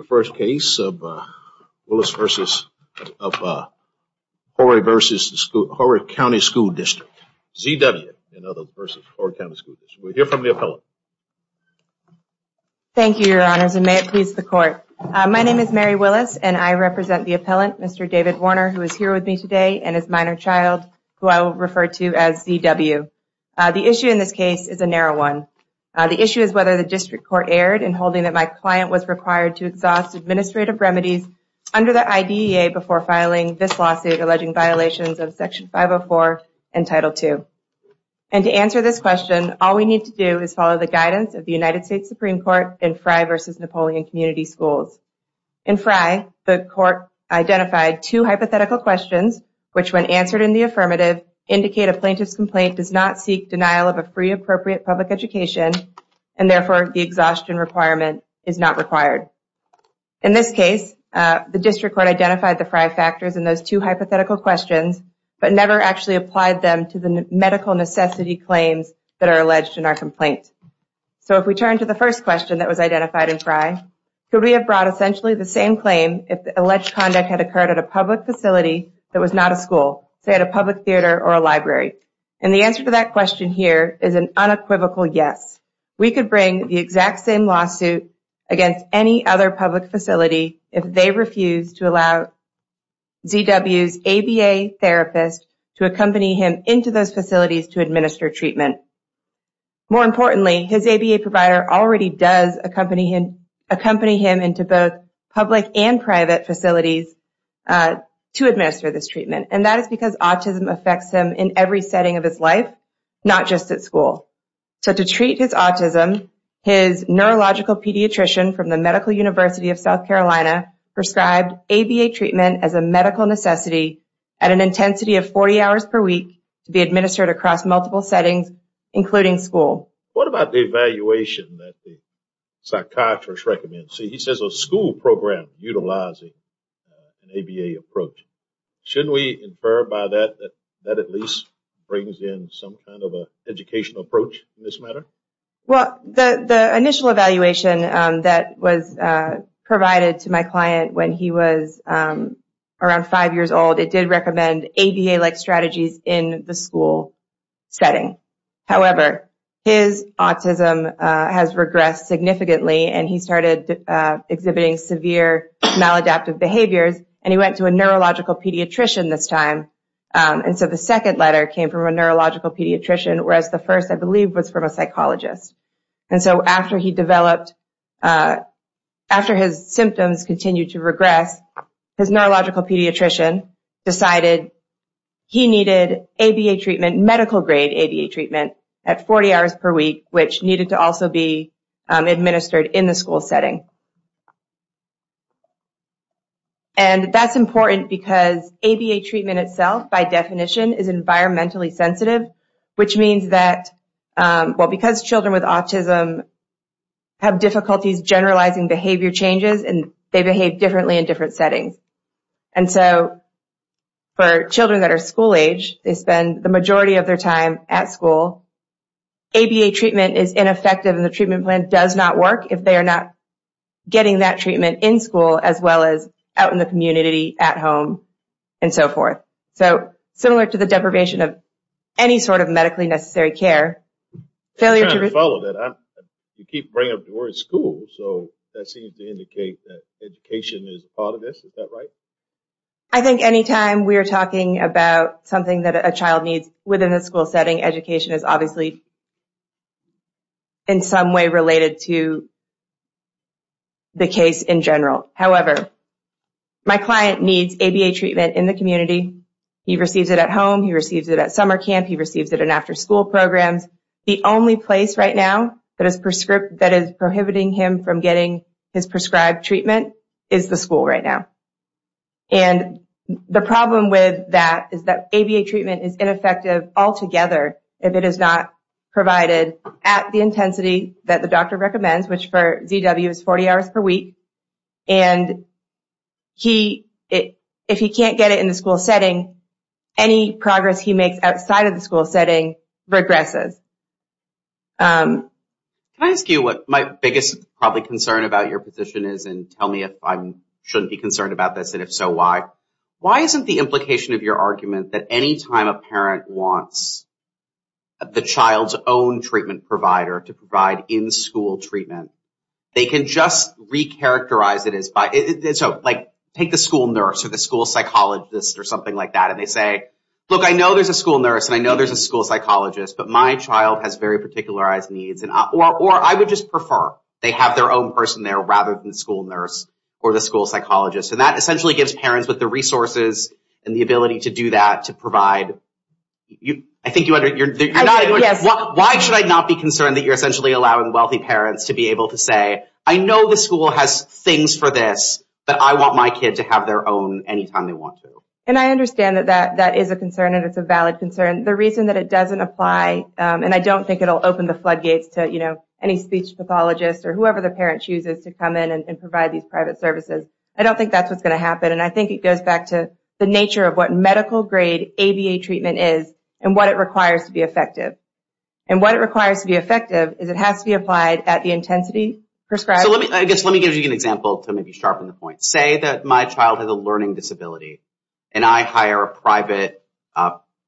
Z. W. and others v. Horry County School District. We'll hear from the appellant. Thank you, Your Honors, and may it please the Court. My name is Mary Willis, and I represent the appellant, Mr. David Warner, who is here with me today, and his minor child, who I will refer to as Z. W. The issue in this case is a narrow one. The issue is whether the district court erred in holding that my client was required to exhaust the administrative remedies under the IDEA before filing this lawsuit alleging violations of Section 504 and Title II. And to answer this question, all we need to do is follow the guidance of the United States Supreme Court in Fry v. Napoleon Community Schools. In Fry, the court identified two hypothetical questions which, when answered in the affirmative, indicate a plaintiff's complaint does not seek denial of a free, appropriate public education, and therefore the exhaustion requirement is not required. In this case, the district court identified the Fry factors in those two hypothetical questions, but never actually applied them to the medical necessity claims that are alleged in our complaint. So if we turn to the first question that was identified in Fry, could we have brought essentially the same claim if the alleged conduct had occurred at a public facility that was not a school, say at a public school? We could bring the exact same lawsuit against any other public facility if they refused to allow Z.W.'s ABA therapist to accompany him into those facilities to administer treatment. More importantly, his ABA provider already does accompany him into both public and private facilities to administer this treatment, and that is because autism affects him in every setting of his school. So to treat his autism, his neurological pediatrician from the Medical University of South Carolina prescribed ABA treatment as a medical necessity at an intensity of 40 hours per week to be administered across multiple settings, including school. What about the evaluation that the psychiatrist recommends? See, he says a school program utilizing an ABA approach. Shouldn't we infer by that that that at least brings in some kind of an educational approach in this matter? Well, the initial evaluation that was provided to my client when he was around five years old, it did recommend ABA-like strategies in the school setting. However, his autism has regressed significantly, and he started exhibiting severe maladaptive behaviors, and he went to a neurological pediatrician this time. And so the second letter came from a neurological pediatrician, whereas the first, I believe, was from a psychologist. And so after he developed, after his symptoms continued to regress, his neurological pediatrician decided he needed ABA treatment, medical-grade ABA treatment at 40 hours per week, which needed to also be administered in the school setting. And that's important because ABA treatment itself, by definition, is environmentally sensitive, which means that, well, because children with autism have difficulties generalizing behavior changes, and they behave differently in different settings. And so for children that are school-age, they spend the majority of their time at school. ABA treatment is ineffective, and the treatment plan does not work if they are not getting that treatment in school as well as out in the community, at home, and so forth. So similar to the deprivation of any sort of medically necessary care. I'm trying to follow that. You keep bringing up the word school, so that seems to indicate that education is part of this. Is that right? I think any time we are talking about something that a child needs within a school setting, education is obviously in some way related to the case in general. However, my client needs ABA treatment in the community. He receives it at home. He receives it at summer camp. He receives it in after-school programs. The only place right now that is prohibiting him from getting his prescribed treatment is the school right now. And the problem with that is that ABA treatment is ineffective altogether if it is not provided at the intensity that the doctor recommends, which for ZW is 40 hours per week. And if he can't get it in the school setting, any progress he makes outside of the school setting regresses. Can I ask you what my biggest concern about your position is, and tell me if I shouldn't be concerned about this, and if so, why? Why isn't the implication of your argument that any time a parent wants the child's own treatment provider to provide in-school treatment, they can just recharacterize it? Take the school nurse or the school psychologist or something like that, and they say, look, I know there's a school nurse and I know there's a school psychologist, but my child has very particularized needs, or I would just prefer they have their own person there rather than the school nurse or the school psychologist. And that essentially gives parents with the resources and the ability to do that to provide. Why should I not be concerned that you're essentially allowing wealthy parents to be able to say, I know the school has things for this, but I want my kid to have their own any time they want to? And I understand that that is a concern and it's a valid concern. The reason that it doesn't apply, and I don't think it'll open the floodgates to any speech pathologist or whoever the parent chooses to come in and provide these private services. I don't think that's what's going to happen, and I think it goes back to the nature of what medical-grade ABA treatment is and what it requires to be effective. And what it requires to be effective is it has to be applied at the intensity prescribed. Let me give you an example to maybe sharpen the point. Say that my child has a learning disability and I hire a private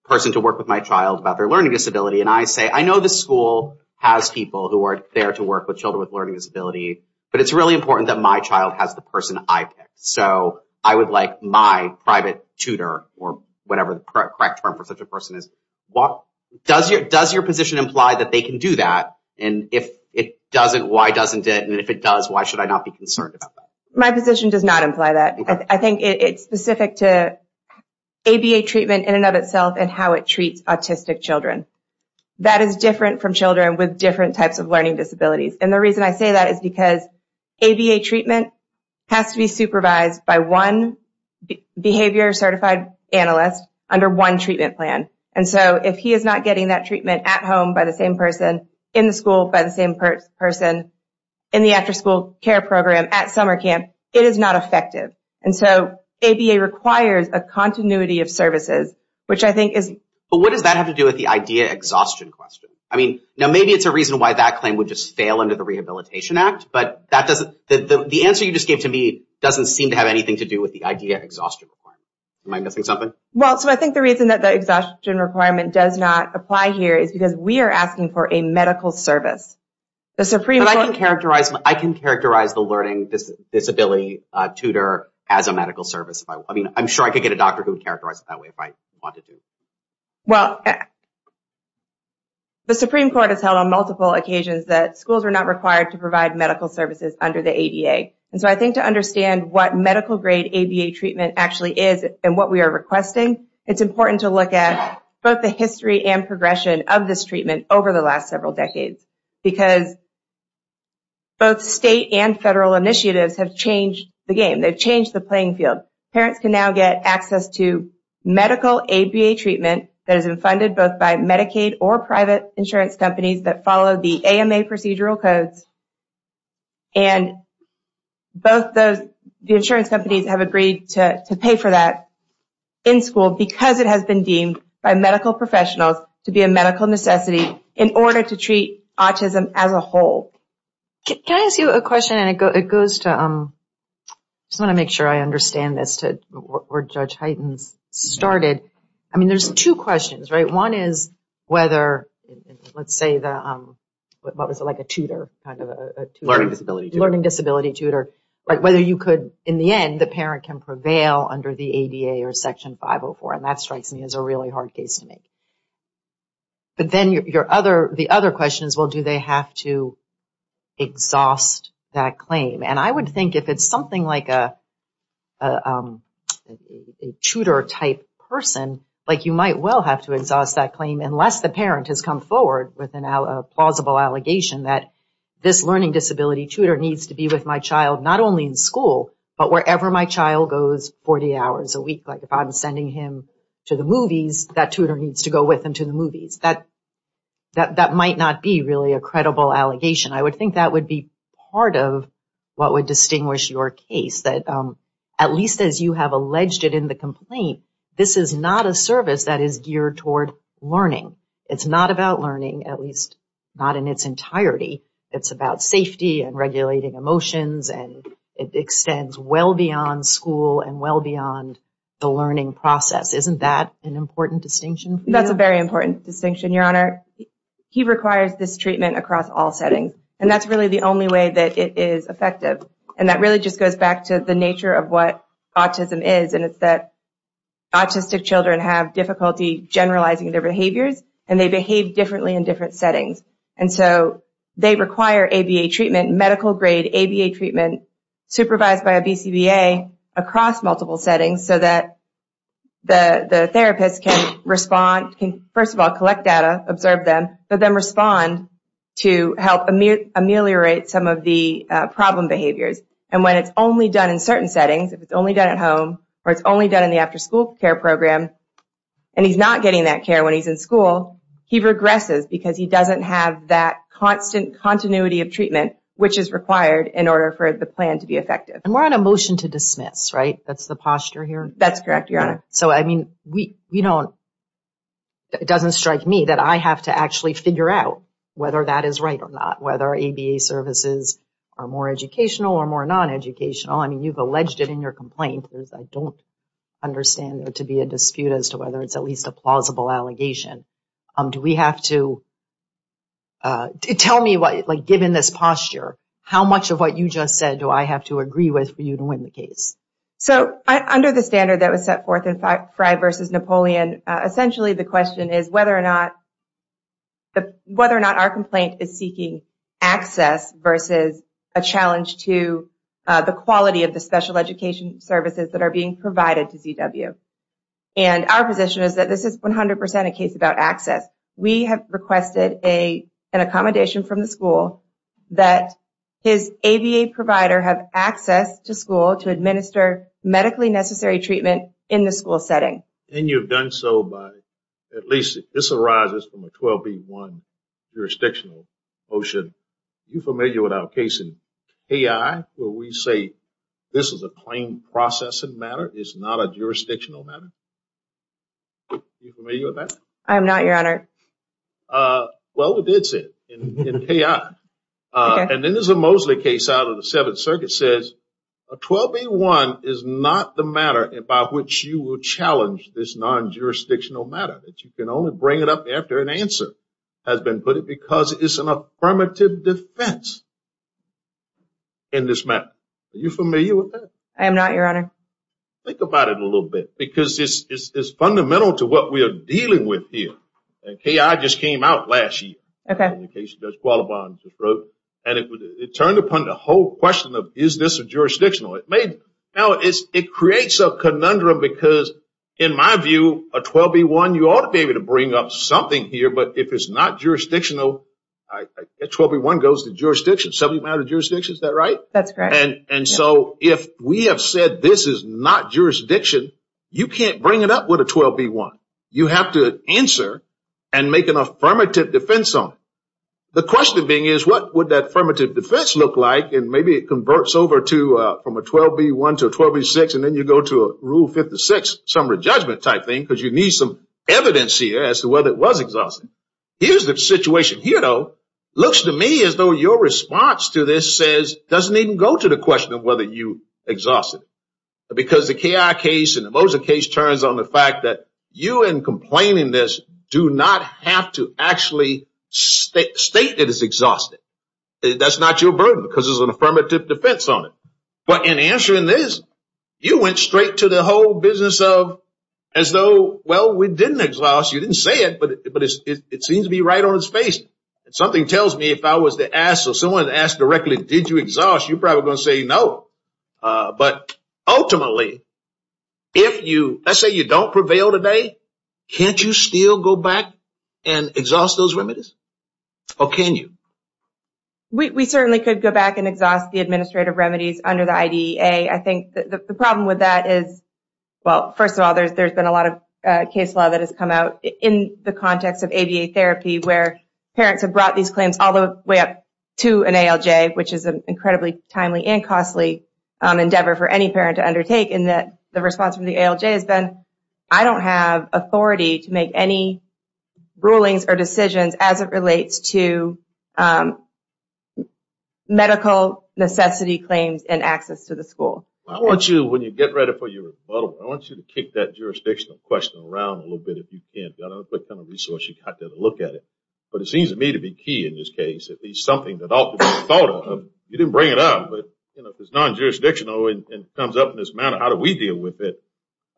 person to work with my child about their learning disability. And I say, I know the school has people who are there to work with children with learning disability, but it's really important that my child has the person I picked. So I would like my private tutor or whatever the correct term for such a person is. Does your position imply that they can do that? And if it doesn't, why doesn't it? And if it does, why should I not be concerned? My position does not imply that. I think it's specific to ABA treatment in and of itself and how it treats autistic children. That is different from children with different types of learning disabilities. And the reason I say that is because ABA treatment has to be supervised by one behavior-certified analyst under one treatment plan. And so if he is not getting that treatment at home by the same person, in the school by the same person, in the after-school care program, at summer camp, it is not effective. And so ABA requires a continuity of services, which I think is But what does that have to do with the IDEA exhaustion question? I mean, now maybe it's a reason why that claim would just fail under the Rehabilitation Act, but the answer you just gave to me doesn't seem to have anything to do with the IDEA exhaustion requirement. Am I missing something? Well, so I think the reason that the exhaustion requirement does not apply here is because we are asking for a medical service. But I can characterize the learning disability tutor as a medical service. I mean, I'm sure I could get a doctor who would characterize it that way if I wanted to. Well, the Supreme Court has held on multiple occasions that schools are not required to provide medical services under the ADA. And so I think to understand what medical-grade ABA treatment actually is and what we are requesting, it's important to understand that it's important because both state and federal initiatives have changed the game. They've changed the playing field. Parents can now get access to medical ABA treatment that has been funded both by Medicaid or private insurance companies that follow the AMA procedural codes. And both the insurance companies have agreed to pay for that in school because it has been deemed by medical professionals to be a medical necessity in order to treat autism and other disabilities as a whole. Can I ask you a question? I just want to make sure I understand this, where Judge Hyten started. I mean, there's two questions, right? One is whether, let's say, what was it, like a tutor? Learning disability tutor. In the end, the parent can prevail under the ADA or Section 504, and that strikes me as a really hard case to make. But then the other question is, well, do they have to exhaust that claim? And I would think if it's something like a tutor-type person, like you might well have to exhaust that claim unless the parent has come forward with a plausible allegation that this learning disability tutor needs to be with my child not only in school, but wherever my child goes 40 hours a week. Like if I'm sending him to the movies, that tutor needs to go to the movies. That might not be really a credible allegation. I would think that would be part of what would distinguish your case. At least as you have alleged it in the complaint, this is not a service that is geared toward learning. It's not about learning, at least not in its entirety. It's about safety and regulating emotions, and it extends well beyond school and well beyond the learning process. Isn't that an important distinction for you? That's a very important distinction, Your Honor. He requires this treatment across all settings, and that's really the only way that it is effective. And that really just goes back to the nature of what autism is, and it's that autistic children have difficulty generalizing their behaviors, and they behave differently in different settings. And so they require ABA treatment, medical-grade ABA treatment, supervised by a BCBA across multiple settings so that the therapist can respond, can first of all collect data, observe them, but then respond to help ameliorate some of the problem behaviors. And when it's only done in certain settings, if it's only done at home, or it's only done in the after-school care program, and he's not getting that care when he's in school, he regresses because he doesn't have that constant continuity of treatment which is required in order for the plan to be effective. And we're on a motion to dismiss, right? That's the posture here? That's correct, Your Honor. So, I mean, it doesn't strike me that I have to actually figure out whether that is right or not, whether ABA services are more educational or more non-educational. I mean, you've alleged it in your complaint. I don't understand there to be a dispute as to whether it's at least a plausible allegation. Do we have to, tell me, given this posture, how much of what you just said do I have to agree with for you to win the case? So, under the standard that was set forth in Frye v. Napoleon, essentially the question is whether or not our complaint is seeking access versus a challenge to the quality of the special education services that are being provided to ZW. And our position is that this is 100% a case about access. We have requested an accommodation from the school that his ABA provider have access to school to administer medically necessary treatment in the school setting. And you've done so by, at least, this arises from a 12B1 jurisdictional motion. Are you familiar with our case in AI where we say this is a claim processing matter? It's not a jurisdictional matter. Are you familiar with that? I am not, Your Honor. Well, we did say it in AI. And then there's a Mosley case out of the Seventh Circuit says a 12B1 is not the matter about which you will challenge this non-jurisdictional matter. You can only bring it up after an answer has been put in because it's an affirmative defense in this matter. Are you familiar with that? I am not, Your Honor. Think about it a little bit because it's fundamental to what we are dealing with here. KI just came out last year. And it turned upon the whole question of is this jurisdictional. Now, it creates a conundrum because in my view, a 12B1, you ought to be able to bring up something here. But if it's not jurisdictional, a 12B1 goes to jurisdiction, subject matter jurisdiction. Is that right? That's correct. And so if we have said this is not jurisdiction, you can't bring it up with a 12B1. You have to answer and make an affirmative defense on it. The question being is what would that affirmative defense look like? And maybe it converts over to from a 12B1 to a 12B6. And then you go to a Rule 56 summary judgment type thing because you need some evidence here as to whether it was exhaustive. Here's the situation. Here, though, looks to me as though your response to this doesn't even go to the question of whether you exhausted. Because the KI case and the Moser case turns on the fact that you in complaining this do not have to actually state that it's exhaustive. That's not your burden because there's an affirmative defense on it. But in answering this, you went straight to the whole business of as though, well, we didn't exhaust. You didn't say it, but it seems to be right on its face. Something tells me if I was to ask or someone asked directly, did you exhaust? You're probably going to say no. But ultimately, let's say you don't prevail today, can't you still go back and exhaust those remedies? Or can you? We certainly could go back and exhaust the administrative remedies under the IDEA. I think the problem with that is, well, first of all, there's been a lot of case law that has come out in the context of ABA therapy where parents have brought these claims all the way up to an ALJ, which is an incredibly timely and costly endeavor for any parent to undertake. And that the response from the ALJ has been, I don't have authority to make any rulings or decisions as it relates to medical necessity claims and access to the school. I want you, when you get ready for your rebuttal, I want you to kick that jurisdictional question around a little bit if you can. I don't know what kind of resource you got there to look at it. But it seems to me to be key in this case, at least something that all thought of. You didn't bring it up, but it's non-jurisdictional and comes up in this manner. How do we deal with it?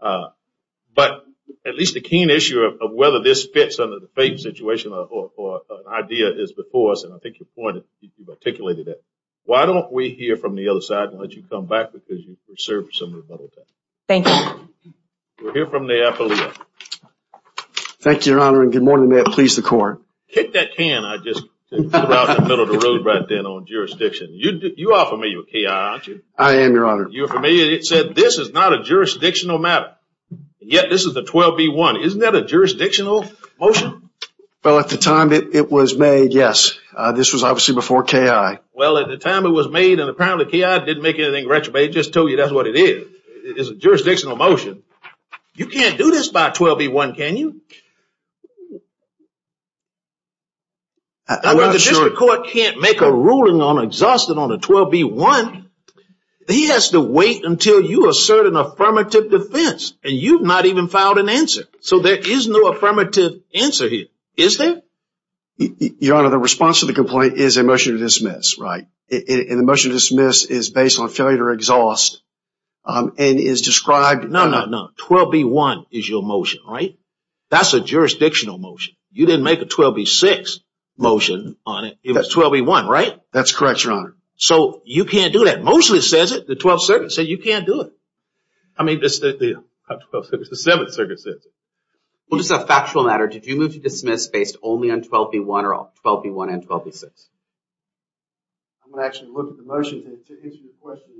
But at least the keen issue of whether this fits under the FAPE situation or IDEA is before us. And I think your point, you've articulated that. Why don't we hear from the other side and let you come back because you've served some rebuttal time. We'll hear from the affiliate. Thank you, Your Honor, and good morning to the police and the court. Kick that can I just threw out in the middle of the road on jurisdiction. You are familiar with KI, aren't you? I am, Your Honor. This is not a jurisdictional matter, yet this is the 12B1. Isn't that a jurisdictional motion? Well, at the time it was made, yes. This was obviously before KI. Well, at the time it was made and apparently KI didn't make anything retrograde, just told you that's what it is. It is a jurisdictional motion. You can't do this by 12B1, can you? The district court can't make a ruling on exhaustion on a 12B1. He has to wait until you assert an affirmative defense and you've not even filed an answer. So there is no affirmative answer here, is there? Your Honor, the response to the complaint is a motion to dismiss. Right. And the motion to dismiss is based on failure to exhaust and is described... No, no, no. 12B1 is your motion, right? That's a jurisdictional motion. You didn't make a 12B6 motion on it. It was 12B1, right? That's correct, Your Honor. So you can't do that. Mostly says it. The 12th Circuit said you can't do it. I mean, the 7th Circuit says it. Well, just a factual matter, did you move to dismiss based only on 12B1 or 12B1 and 12B6? I'm going to actually look at the motion to answer your question.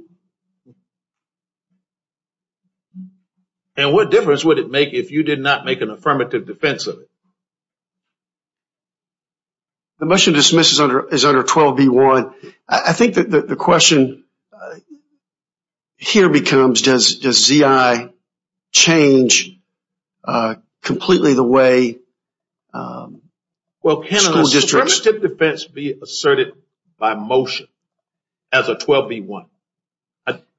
And what difference would it make if you did not make an affirmative defense of it? The motion to dismiss is under 12B1. I think that the question here becomes does ZI change completely the way school districts... Well, can an affirmative defense be asserted by motion as a 12B1?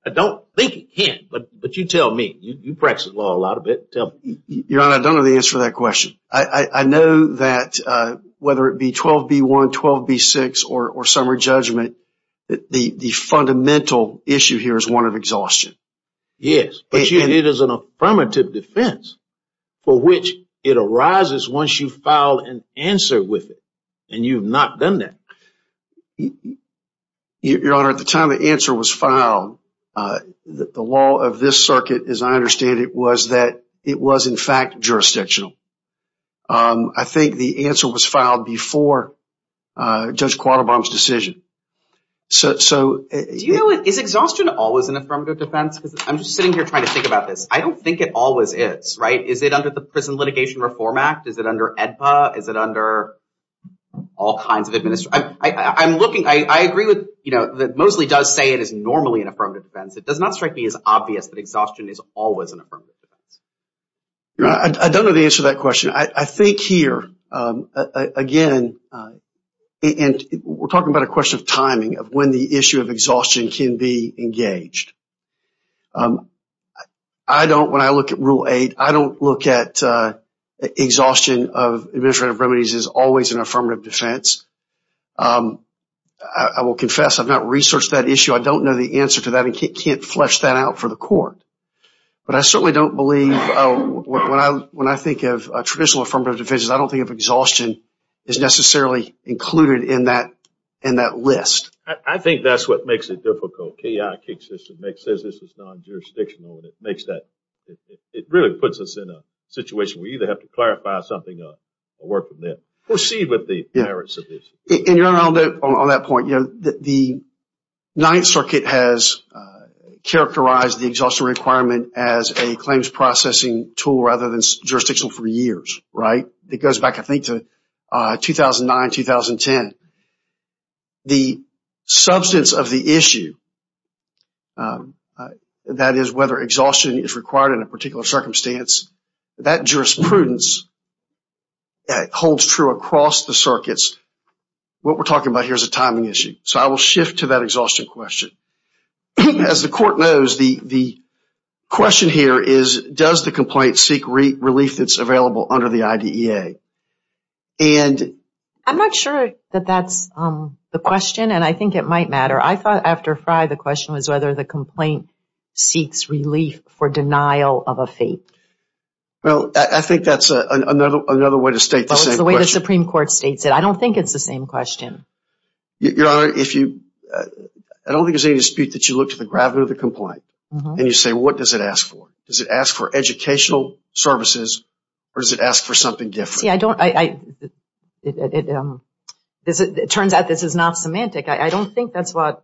I don't think it can, but you tell me. You practice law a lot of it. Your Honor, I don't know the answer to that question. I know that whether it be 12B1, 12B6, or summary judgment, the fundamental issue here is one of exhaustion. Yes, and it is an affirmative defense for which it arises once you file an answer with it. And you've not done that. Your Honor, at the time the answer was filed, the law of this circuit, as I understand it, was that it was, in fact, jurisdictional. I think the answer was filed before Judge Quattlebaum's decision. Is exhaustion always an affirmative defense? I'm just sitting here trying to think about this. I don't think it always is. Is it under the Prison Litigation Reform Act? Is it under AEDPA? Is it under all kinds of administrative... I agree that Mosley does say it is normally an affirmative defense. It does not strike me as obvious that exhaustion is always an affirmative defense. Your Honor, I don't know the answer to that question. I think here, again, we're talking about a question of timing, of when the issue of exhaustion can be engaged. When I look at Rule 8, I don't look at exhaustion of administrative remedies as always an affirmative defense. I will confess I've not researched that issue. I don't know the answer to that. I can't flesh that out for the Court. But I certainly don't believe when I think of traditional affirmative defenses, I don't think of exhaustion as necessarily included in that list. I think that's what makes it difficult. K.I. says this is non-jurisdictional. It really puts us in a dilemma. Proceed with the merits of the issue. Your Honor, on that point, the Ninth Circuit has characterized the exhaustion requirement as a claims processing tool rather than jurisdictional for years. It goes back, I think, to 2009-2010. The substance of the issue, that is, whether exhaustion is required in a particular circumstance, that jurisprudence holds true across the circuits. What we're talking about here is a timing issue. I will shift to that exhaustion question. As the Court knows, the question here is, does the complaint seek relief that's available under the IDEA? I'm not sure that that's the question. I think it might matter. I thought after Frye the question was whether the complaint seeks relief for denial of a fate. I don't think it's the same question. I don't think there's any dispute that you look at the gravity of the complaint and you say, what does it ask for? Does it ask for educational services or does it ask for something different? It turns out this is not semantic. I don't think that's what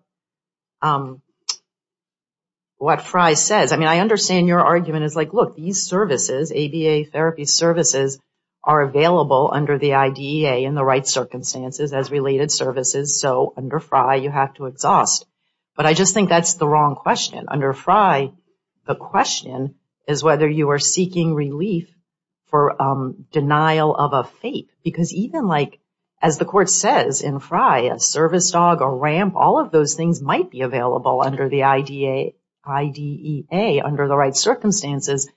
Frye says. I understand your argument. Look, these services, ABA therapy services, are available under the IDEA in the right circumstances as related services. Under Frye, you have to exhaust. I just think that's the wrong question. Under Frye, the question is whether you are seeking relief for denial of a fate. Because even like, as the Court says in Frye, a service dog, a ramp, all of those things might be available under the IDEA under the right circumstances,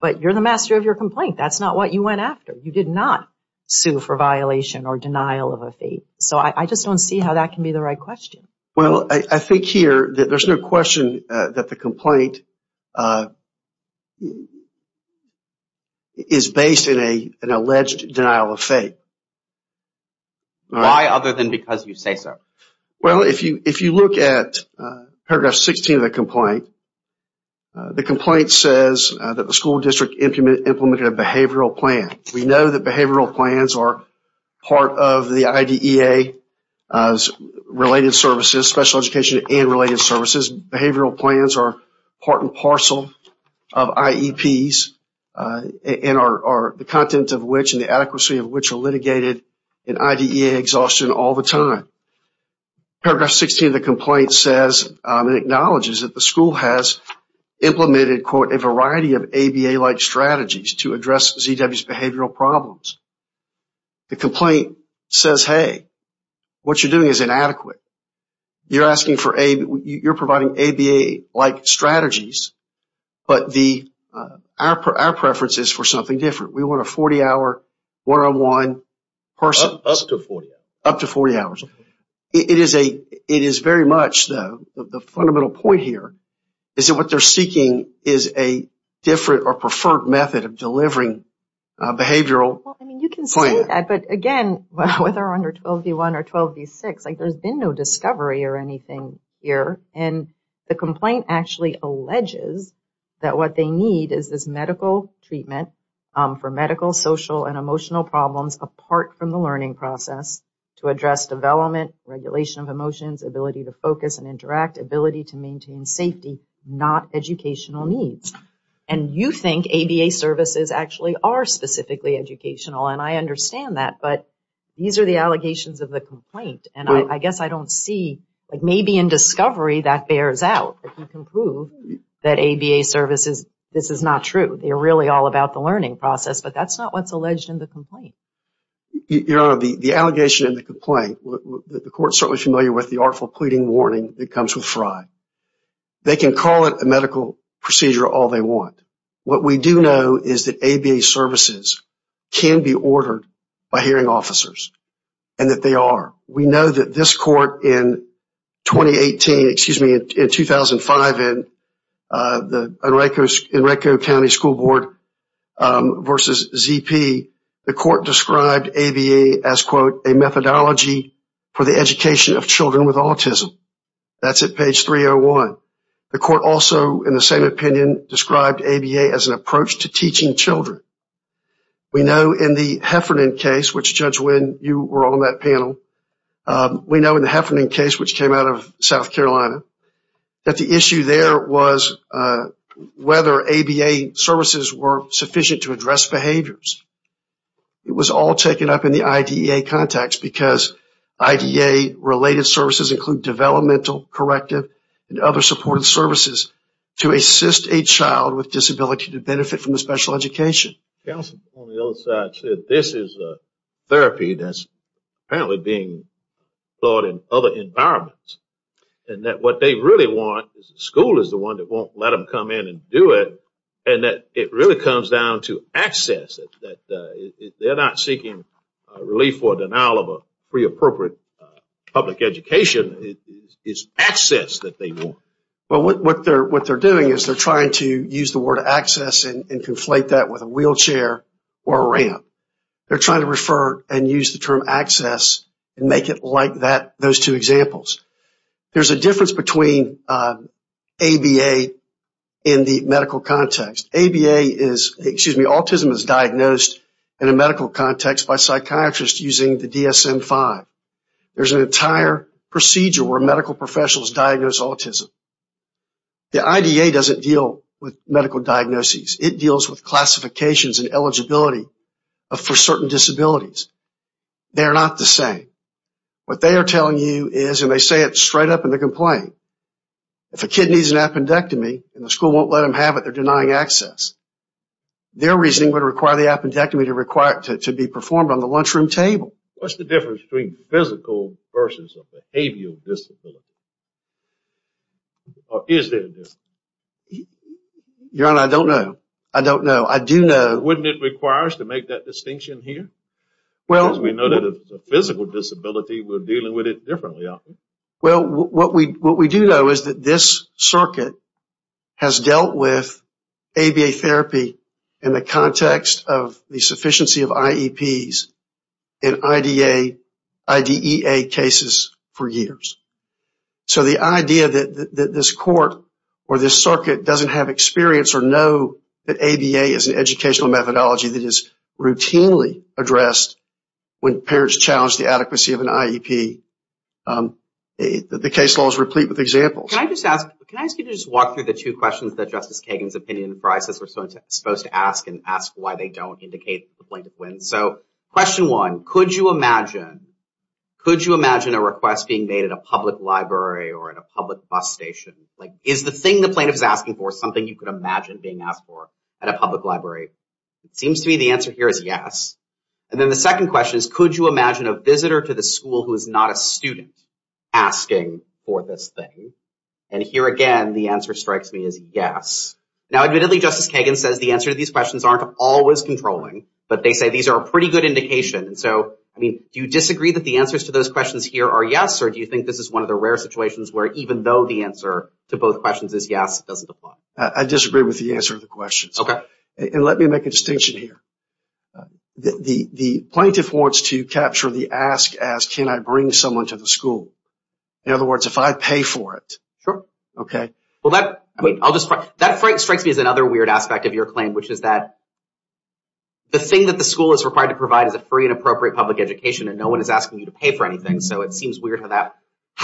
but you're the master of your complaint. That's not what you went after. You did not sue for violation or denial of a fate. I just don't see how that can be the right question. There's no question that the complaint is based in an alleged denial of fate. Why other than because you say so? If you look at paragraph 16 of the complaint, the complaint says that the school district implemented a behavioral plan. We know that behavioral plans are part of the IDEA related services, special education and related services. Behavioral plans are part and parcel of IEPs and are the content of which and the adequacy of which are litigated in IDEA exhaustion all the time. Paragraph 16 of the complaint says and acknowledges that the school has implemented a variety of ABA like strategies to address ZW's behavioral problems. The complaint says, hey, what you're doing is inadequate. You're providing ABA like strategies, but our preference is for something different. We want a 40 hour one-on-one person. Up to 40 hours. The fundamental point here is that what they're seeking is a different or preferred method of delivering behavioral plan. There's been no discovery or anything here. The complaint actually alleges that what they need is this medical treatment for medical, social and emotional problems apart from the learning process to address development, regulation of emotions, ability to focus and interact, ability to maintain safety, not educational needs. And you think ABA services actually are specifically educational and I understand that, but these are the allegations of the complaint and I guess I don't see like maybe in discovery that bears out that you can prove that ABA services, this is not true. They're really all about the learning process, but that's not what's alleged in the complaint. The allegation in the complaint, the court is certainly familiar with the artful pleading warning that comes with Frye. They can call it a medical procedure all they want. What we do know is that ABA services can be ordered by hearing officers and that they are. We know that this court in 2018, excuse me, in 2005 in the Enrico County School Board versus ZP, the court described ABA as quote, a methodology for the education of children with autism. That's at page 301. The court also in the same opinion described ABA as an approach to teaching children. We know in the Heffernan case, which Judge Wynn, you were on that panel. We know in the Heffernan case, which came out of South Carolina, that the issue there was whether ABA services were sufficient to address behaviors. It was all taken up in the IDEA context because IDEA related services include developmental, corrective and other supportive services to assist a child with disability to benefit from a special education. Counsel on the other side said this is a therapy that's apparently being taught in other environments and that what they really want is the school is the one that won't let them come in and do it and that it really comes down to access. They're not seeking relief or what they're doing is they're trying to use the word access and conflate that with a wheelchair or a ramp. They're trying to refer and use the term access and make it like those two examples. There's a difference between ABA in the medical context. Autism is diagnosed in a medical context by psychiatrists using the term autism. The IDEA doesn't deal with medical diagnoses. It deals with classifications and eligibility for certain disabilities. They're not the same. What they are telling you is, and they say it straight up in the complaint, if a kid needs an appendectomy and the school won't let them have it, they're denying access. Their reasoning would require the appendectomy to be performed on the lunchroom table. What's the difference between physical versus behavioral disability? Or is there a difference? I don't know. I do know. What we do know is that this circuit has dealt with ABA therapy in the context of the sufficiency of IEPs and IDEA cases for years. The idea that this court or this circuit doesn't have experience or know that ABA is an educational methodology that is routinely addressed when parents challenge the adequacy of an IEP, the case law is replete with examples. Can I ask you to just walk through the two questions that Justice Kagan's opinion for ISIS were supposed to ask and ask why they don't indicate the plaintiff wins? Question one, could you imagine a request being made at a public library or at a public bus station? Is the thing the plaintiff is asking for something you could imagine being asked for at a public library? It seems to me the answer here is yes. Then the second question is, could you imagine a visitor to the school who is not a student asking for this thing? Here again, the answer strikes me as yes. Now, admittedly, Justice Kagan says the answer to these questions aren't always controlling, but they say these are a pretty good indication. Do you disagree that the answers to those questions here are yes, or do you think this is one of the rare situations where even though the answer to both questions is yes, it doesn't apply? I disagree with the answer to the questions. Let me make a distinction here. The plaintiff wants to capture the ask as, can I bring someone to the school? In other words, if I pay for it. That strikes me as another weird aspect of your claim, which is that the thing that the school is required to provide is a free and appropriate public education, and no one is asking you to pay for anything. It seems weird how that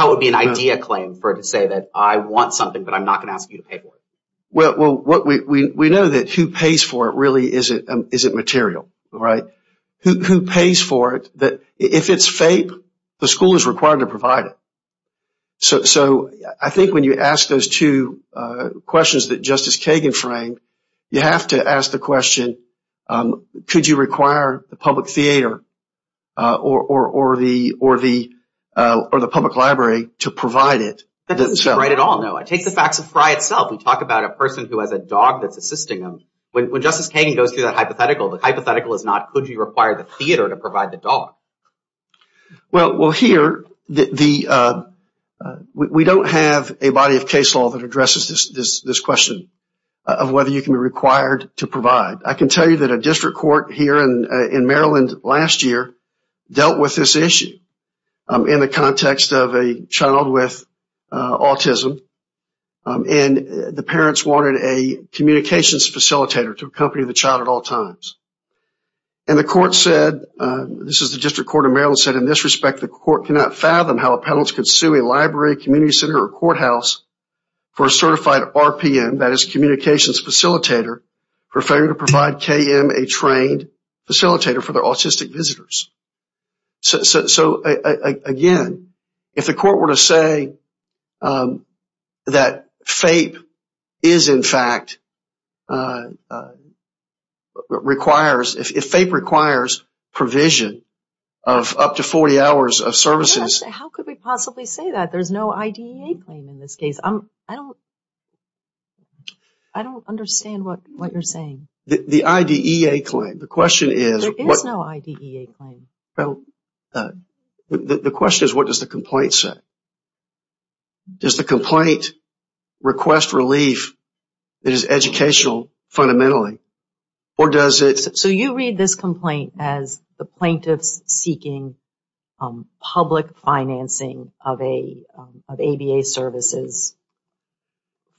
would be an idea claim for it to say that I want something, but I'm not going to ask you to pay for it. We know that who pays for it really isn't material. Who pays for it? If it's fake, the school is required to provide it. I think when you ask those two questions that Justice Kagan framed, you have to ask the question, could you require the public theater or the public library to provide it? That doesn't seem right at all. Take the facts of Fry itself. We talk about a person who has a dog that's assisting him. When Justice Kagan goes through that hypothetical, the hypothetical is not, could you require the theater to provide the dog? Well, here, we don't have a body of case law that addresses this question of whether you can be required to provide. I can tell you that a district court here in Maryland last year dealt with this issue in the context of a child with autism, and the parents wanted a communications facilitator to accompany the child at all times. And the court said, this is the District Court of Maryland, said, in this respect, the court cannot fathom how appellants could sue a library, community center, or courthouse for a certified RPM, that is, communications facilitator, for failing to provide KM a trained facilitator for their autistic visitors. So, again, if the court were to say that FAPE is, in fact, requires, if FAPE requires provision of up to 40 hours of services. How could we possibly say that? There's no IDEA claim in this case. I don't understand what you're saying. The IDEA claim, the question is. There is no IDEA claim. The question is, what does the complaint say? Does the complaint request relief that is educational, fundamentally? So you read this complaint as the plaintiffs seeking public financing of ABA services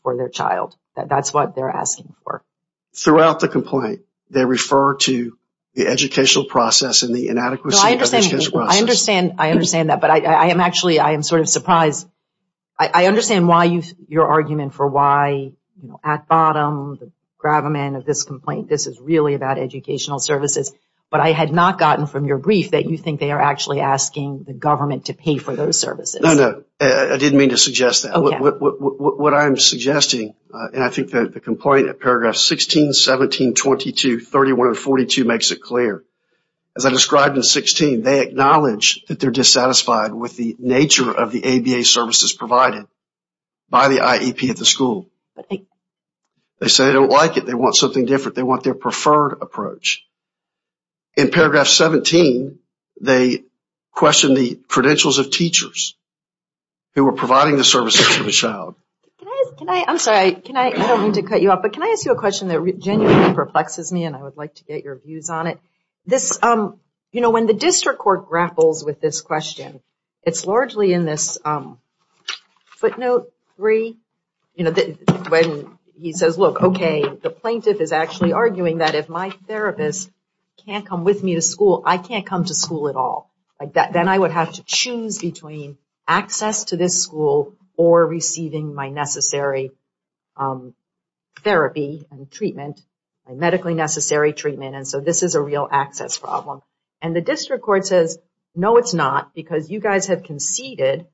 for their child. That's what they're asking for. Throughout the complaint, they refer to the educational process and the inadequacy of the educational process. I understand that, but I am actually, I am sort of surprised. I understand your argument for why, at bottom, the gravamen of this complaint, this is really about educational services, but I had not gotten from your brief that you think they are actually asking the government to pay for those services. I didn't mean to suggest that. What I'm suggesting, and I think that the complaint at paragraph 16, 17, 22, 31 and 42 makes it clear. As I described in 16, they acknowledge that they are dissatisfied with the nature of the ABA services provided by the IEP at the school. They say they don't like it. They want something different. They want their preferred approach. In paragraph 17, they question the credentials of teachers who are providing the services to the child. Can I, I'm sorry, I don't mean to cut you off, but can I ask you a question that genuinely perplexes me and I would like to get your views on it? When the district court grapples with this question, it's largely in this footnote three, when he says, look, okay, the plaintiff is actually arguing that if my therapist can't come with me to school, I can't come to school at all. Then I would have to choose between access to this school or receiving my necessary therapy and treatment, medically necessary treatment. And so this is a real access problem. And the district court says, no, it's not because you guys have conceded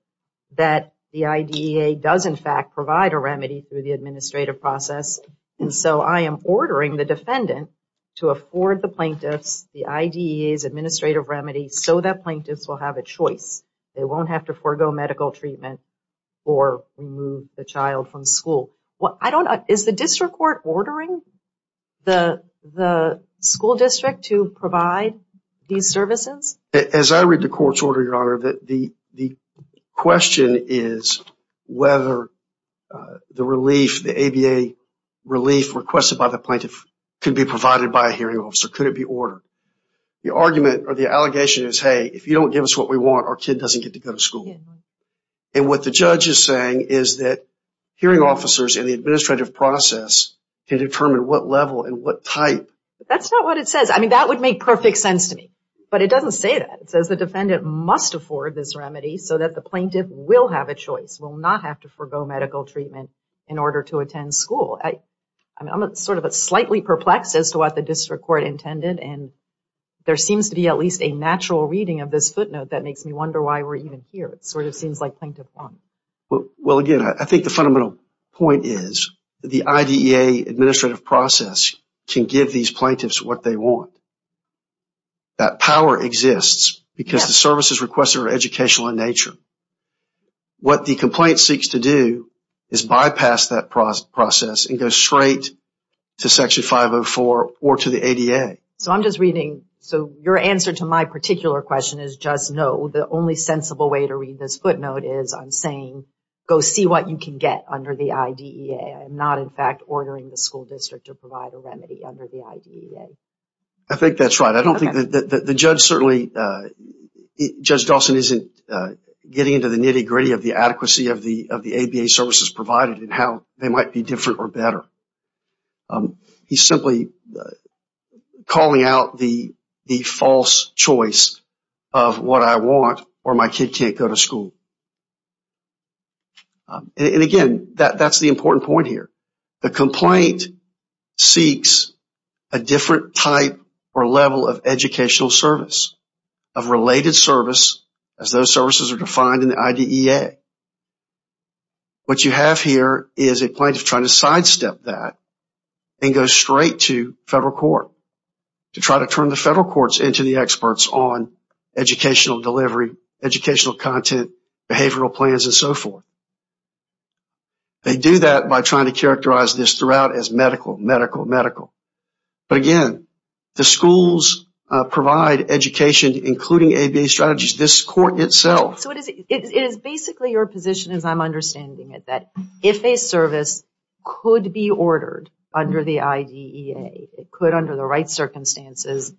that the IDEA does in fact provide a remedy through the administrative process. And so I am ordering the defendant to afford the plaintiffs the IDEA's administrative remedy so that plaintiffs will have a choice. They won't have to forego medical treatment or remove the child from school. Is the district court ordering the school district to provide these services? As I read the court's order, Your Honor, the question is whether the relief, the ABA relief requested by the plaintiff could be provided by a hearing officer. Could it be ordered? The argument or the allegation is, hey, if you don't give us what we want, our kid doesn't get to go to school. And what the judge is saying is that hearing officers in the administrative process can determine what level and what type. That's not what it says. I mean, that would make perfect sense to me, but it doesn't say that. It says the defendant must afford this remedy so that the plaintiff will have a choice, will not have to forego medical treatment in order to attend school. I'm sort of slightly perplexed as to what the district court intended, and there seems to be at least a natural reading of this footnote that makes me wonder why we're even here. It sort of seems like plaintiff won. Well, again, I think the fundamental point is the IDEA administrative process can give these plaintiffs what they want. That power exists because the services requested are educational in nature. What the complaint seeks to do is bypass that process and go straight to Section 504 or to the ADA. So I'm just reading. So your answer to my particular question is just no. The only sensible way to read this footnote is I'm saying, go see what you can get under the IDEA and not, in fact, ordering the school district to provide a remedy under the IDEA. I think that's right. I don't think that the judge certainly, Judge Dawson isn't getting into the nitty gritty of the adequacy of the ABA services provided and how they might be different or better. He's simply calling out the false choice of what I want or my kid can't go to here. The complaint seeks a different type or level of educational service, of related service, as those services are defined in the IDEA. What you have here is a plaintiff trying to sidestep that and go straight to federal court to try to turn the federal courts into the experts on educational delivery, educational content, behavioral plans and so forth. They do that by trying to characterize this throughout as medical, medical, medical. But again, the schools provide education including ABA strategies. This court itself... So it is basically your position as I'm understanding it that if a service could be ordered under the IDEA, it could under the right circumstances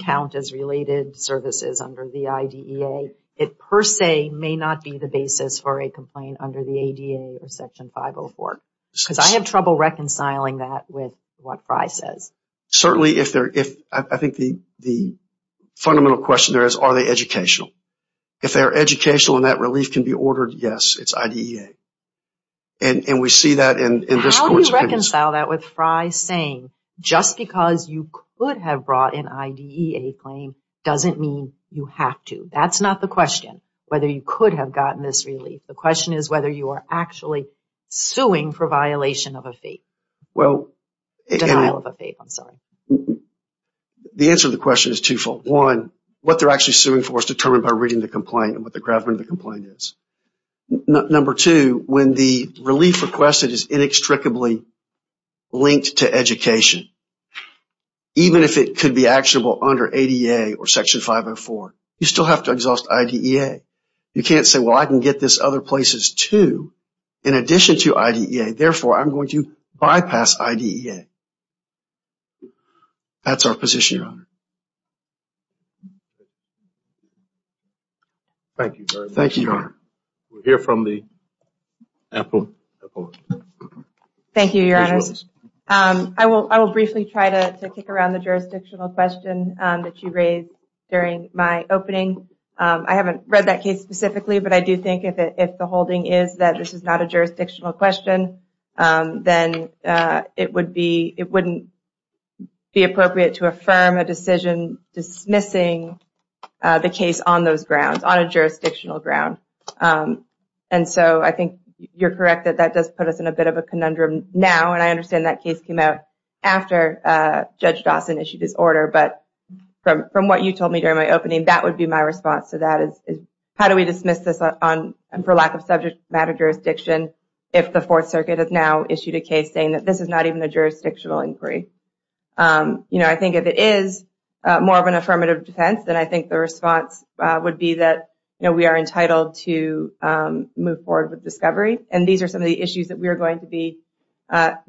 count as related services under the IDEA. It per se may not be the basis for a complaint under the ADA or Section 504. Because I have trouble reconciling that with what Fry says. Certainly if the fundamental question there is, are they educational? If they are educational and that relief can be ordered, yes, it's IDEA. And we see that in this court's case. How do you reconcile that with Fry saying just because you could have brought an IDEA claim doesn't mean you have to. That's not the question. Whether you could have gotten this relief. The question is whether you are actually suing for violation of a faith. Denial of a faith, I'm sorry. The answer to the question is twofold. One, what they're actually suing for is determined by reading the complaint and what the gravity of the complaint is. Number two, when the relief requested is inextricably linked to education, even if it could be actionable under ADA or Section 504, you still have to exhaust IDEA. You can't say I can get this other places too in addition to IDEA. Therefore, I'm going to bypass IDEA. That's our position, Your Honor. Thank you. Thank you, Your Honor. Thank you, Your Honor. I will briefly try to kick around the jurisdictional question that you raised during my opening. I haven't read that case specifically, but I do think if the holding is that this is not a jurisdictional question, then it wouldn't be appropriate to affirm a decision dismissing the case on those grounds, on a jurisdictional ground. I think you're correct that that does put us in a bit of a conundrum now. I understand that case came out after Judge Dawson issued his order, but from what you told me during my opening, that would be my response to that. How do we dismiss this for lack of subject matter jurisdiction if the Fourth Circuit has now issued a case saying that this is not even a jurisdictional inquiry? I think if it is more of an affirmative defense, then I think the response would be that we are entitled to move forward with discovery. These are some of the issues that we are going to be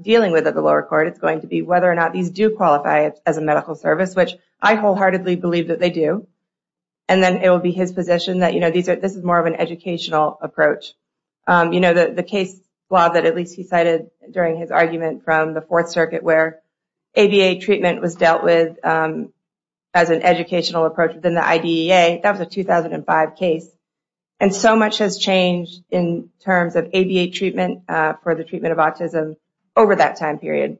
dealing with at the lower court. It's going to be whether or not these do qualify as a medical service, which I wholeheartedly believe that they do. Then it will be his position that this is more of an educational approach. The case that at least he cited during his argument from the Fourth Circuit where ABA treatment was dealt with as an educational approach within the IDEA, that was a 2005 case. So much has changed in terms of ABA treatment for the treatment of autism over that time period.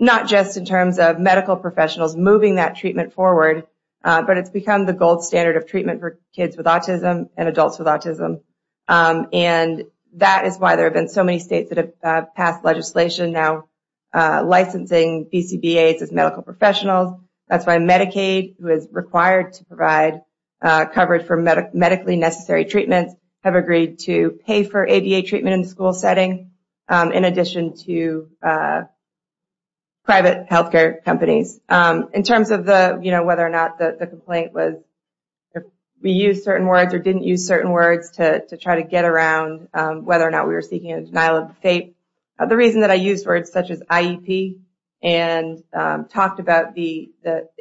Not just in terms of medical professionals moving that treatment forward, but it's become the gold standard of treatment for kids with autism and adults with autism. That is why there have been so many states that have passed legislation now licensing BCBAs as medical professionals. That's why Medicaid, who is required to provide coverage for Medicaid in addition to private health care companies. In terms of whether or not the complaint was, we used certain words or didn't use certain words to try to get around whether or not we were seeking a denial of fate. The reason that I used words such as IEP and talked about the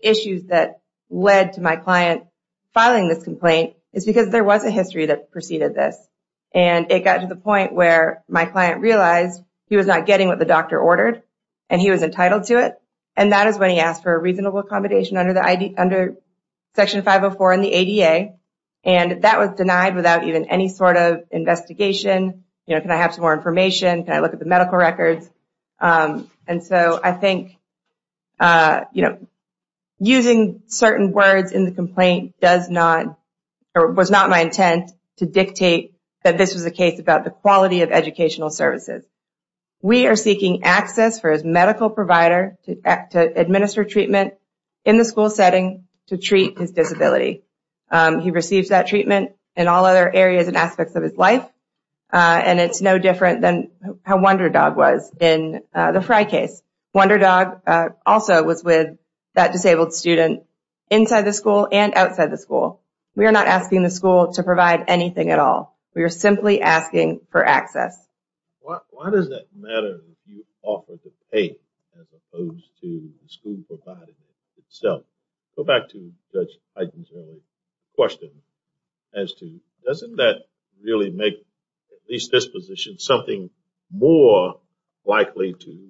issues that led to my client filing this complaint is because there was a history that preceded this. It got to the point where my client realized he was not getting what the doctor ordered and he was entitled to it. That is when he asked for a reasonable accommodation under Section 504 in the ADA. That was denied without even any sort of investigation. Can I have some more information? Can I look at the medical records? So I think using certain words in the complaint was not my intent to dictate that this was a case about the quality of educational services. We are seeking access for his medical provider to administer treatment in the school setting to treat his disability. He receives that treatment in all other areas and aspects of his life. And it's no different than how Wonder Dog was in the Fry case. Wonder Dog also was with that disabled student inside the school and outside the school. We are not asking the school to provide anything at all. We are simply asking for access. Why does that matter if you offer to pay as opposed to the school providing it itself? Go back to Judge at least this position, something more likely to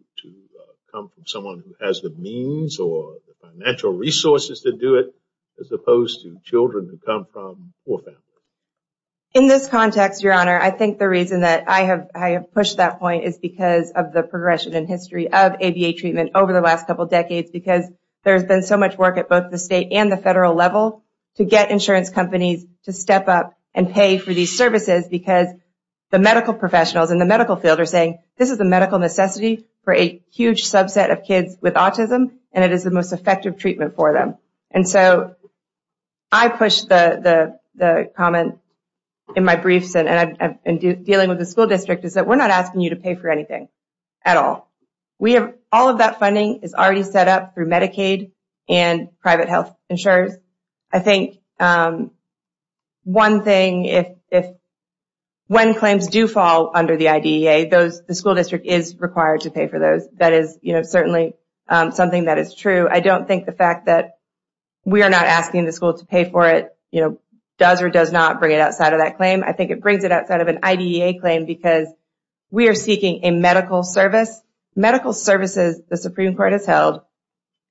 come from someone who has the means or the financial resources to do it as opposed to children who come from poor families. In this context, Your Honor, I think the reason that I have pushed that point is because of the progression in history of ADA treatment over the last couple decades because there has been so much work at both the state and the federal level to get insurance companies to step up and pay for these services because the medical professionals in the medical field are saying this is a medical necessity for a huge subset of kids with autism and it is the most effective treatment for them. And so I push the comment in my briefs and dealing with the school district is that we are not asking you to pay for anything at all. All of that funding is already set up through Medicaid and private health insurers. I think one thing, when claims do fall under the IDEA, the school district is required to pay for those. That is certainly something that is true. I don't think the fact that we are not asking the school to pay for it does or does not bring it outside of that claim. I think it brings it outside of an IDEA claim because we are seeking a medical service. Medical services the Supreme Court has held,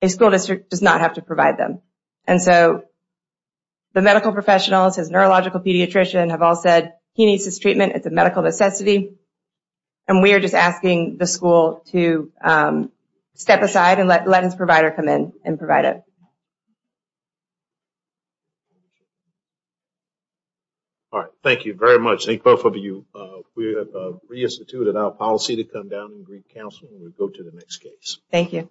a school district does not have to provide them. And so the medical professionals, his neurological pediatrician have all said he needs his treatment. It is a medical necessity. And we are just asking the school to step aside and let his provider come in and provide it. Thank you very much. Thank both of you. We have reinstituted our policy to come down and brief counsel and go to the next case. Thank you.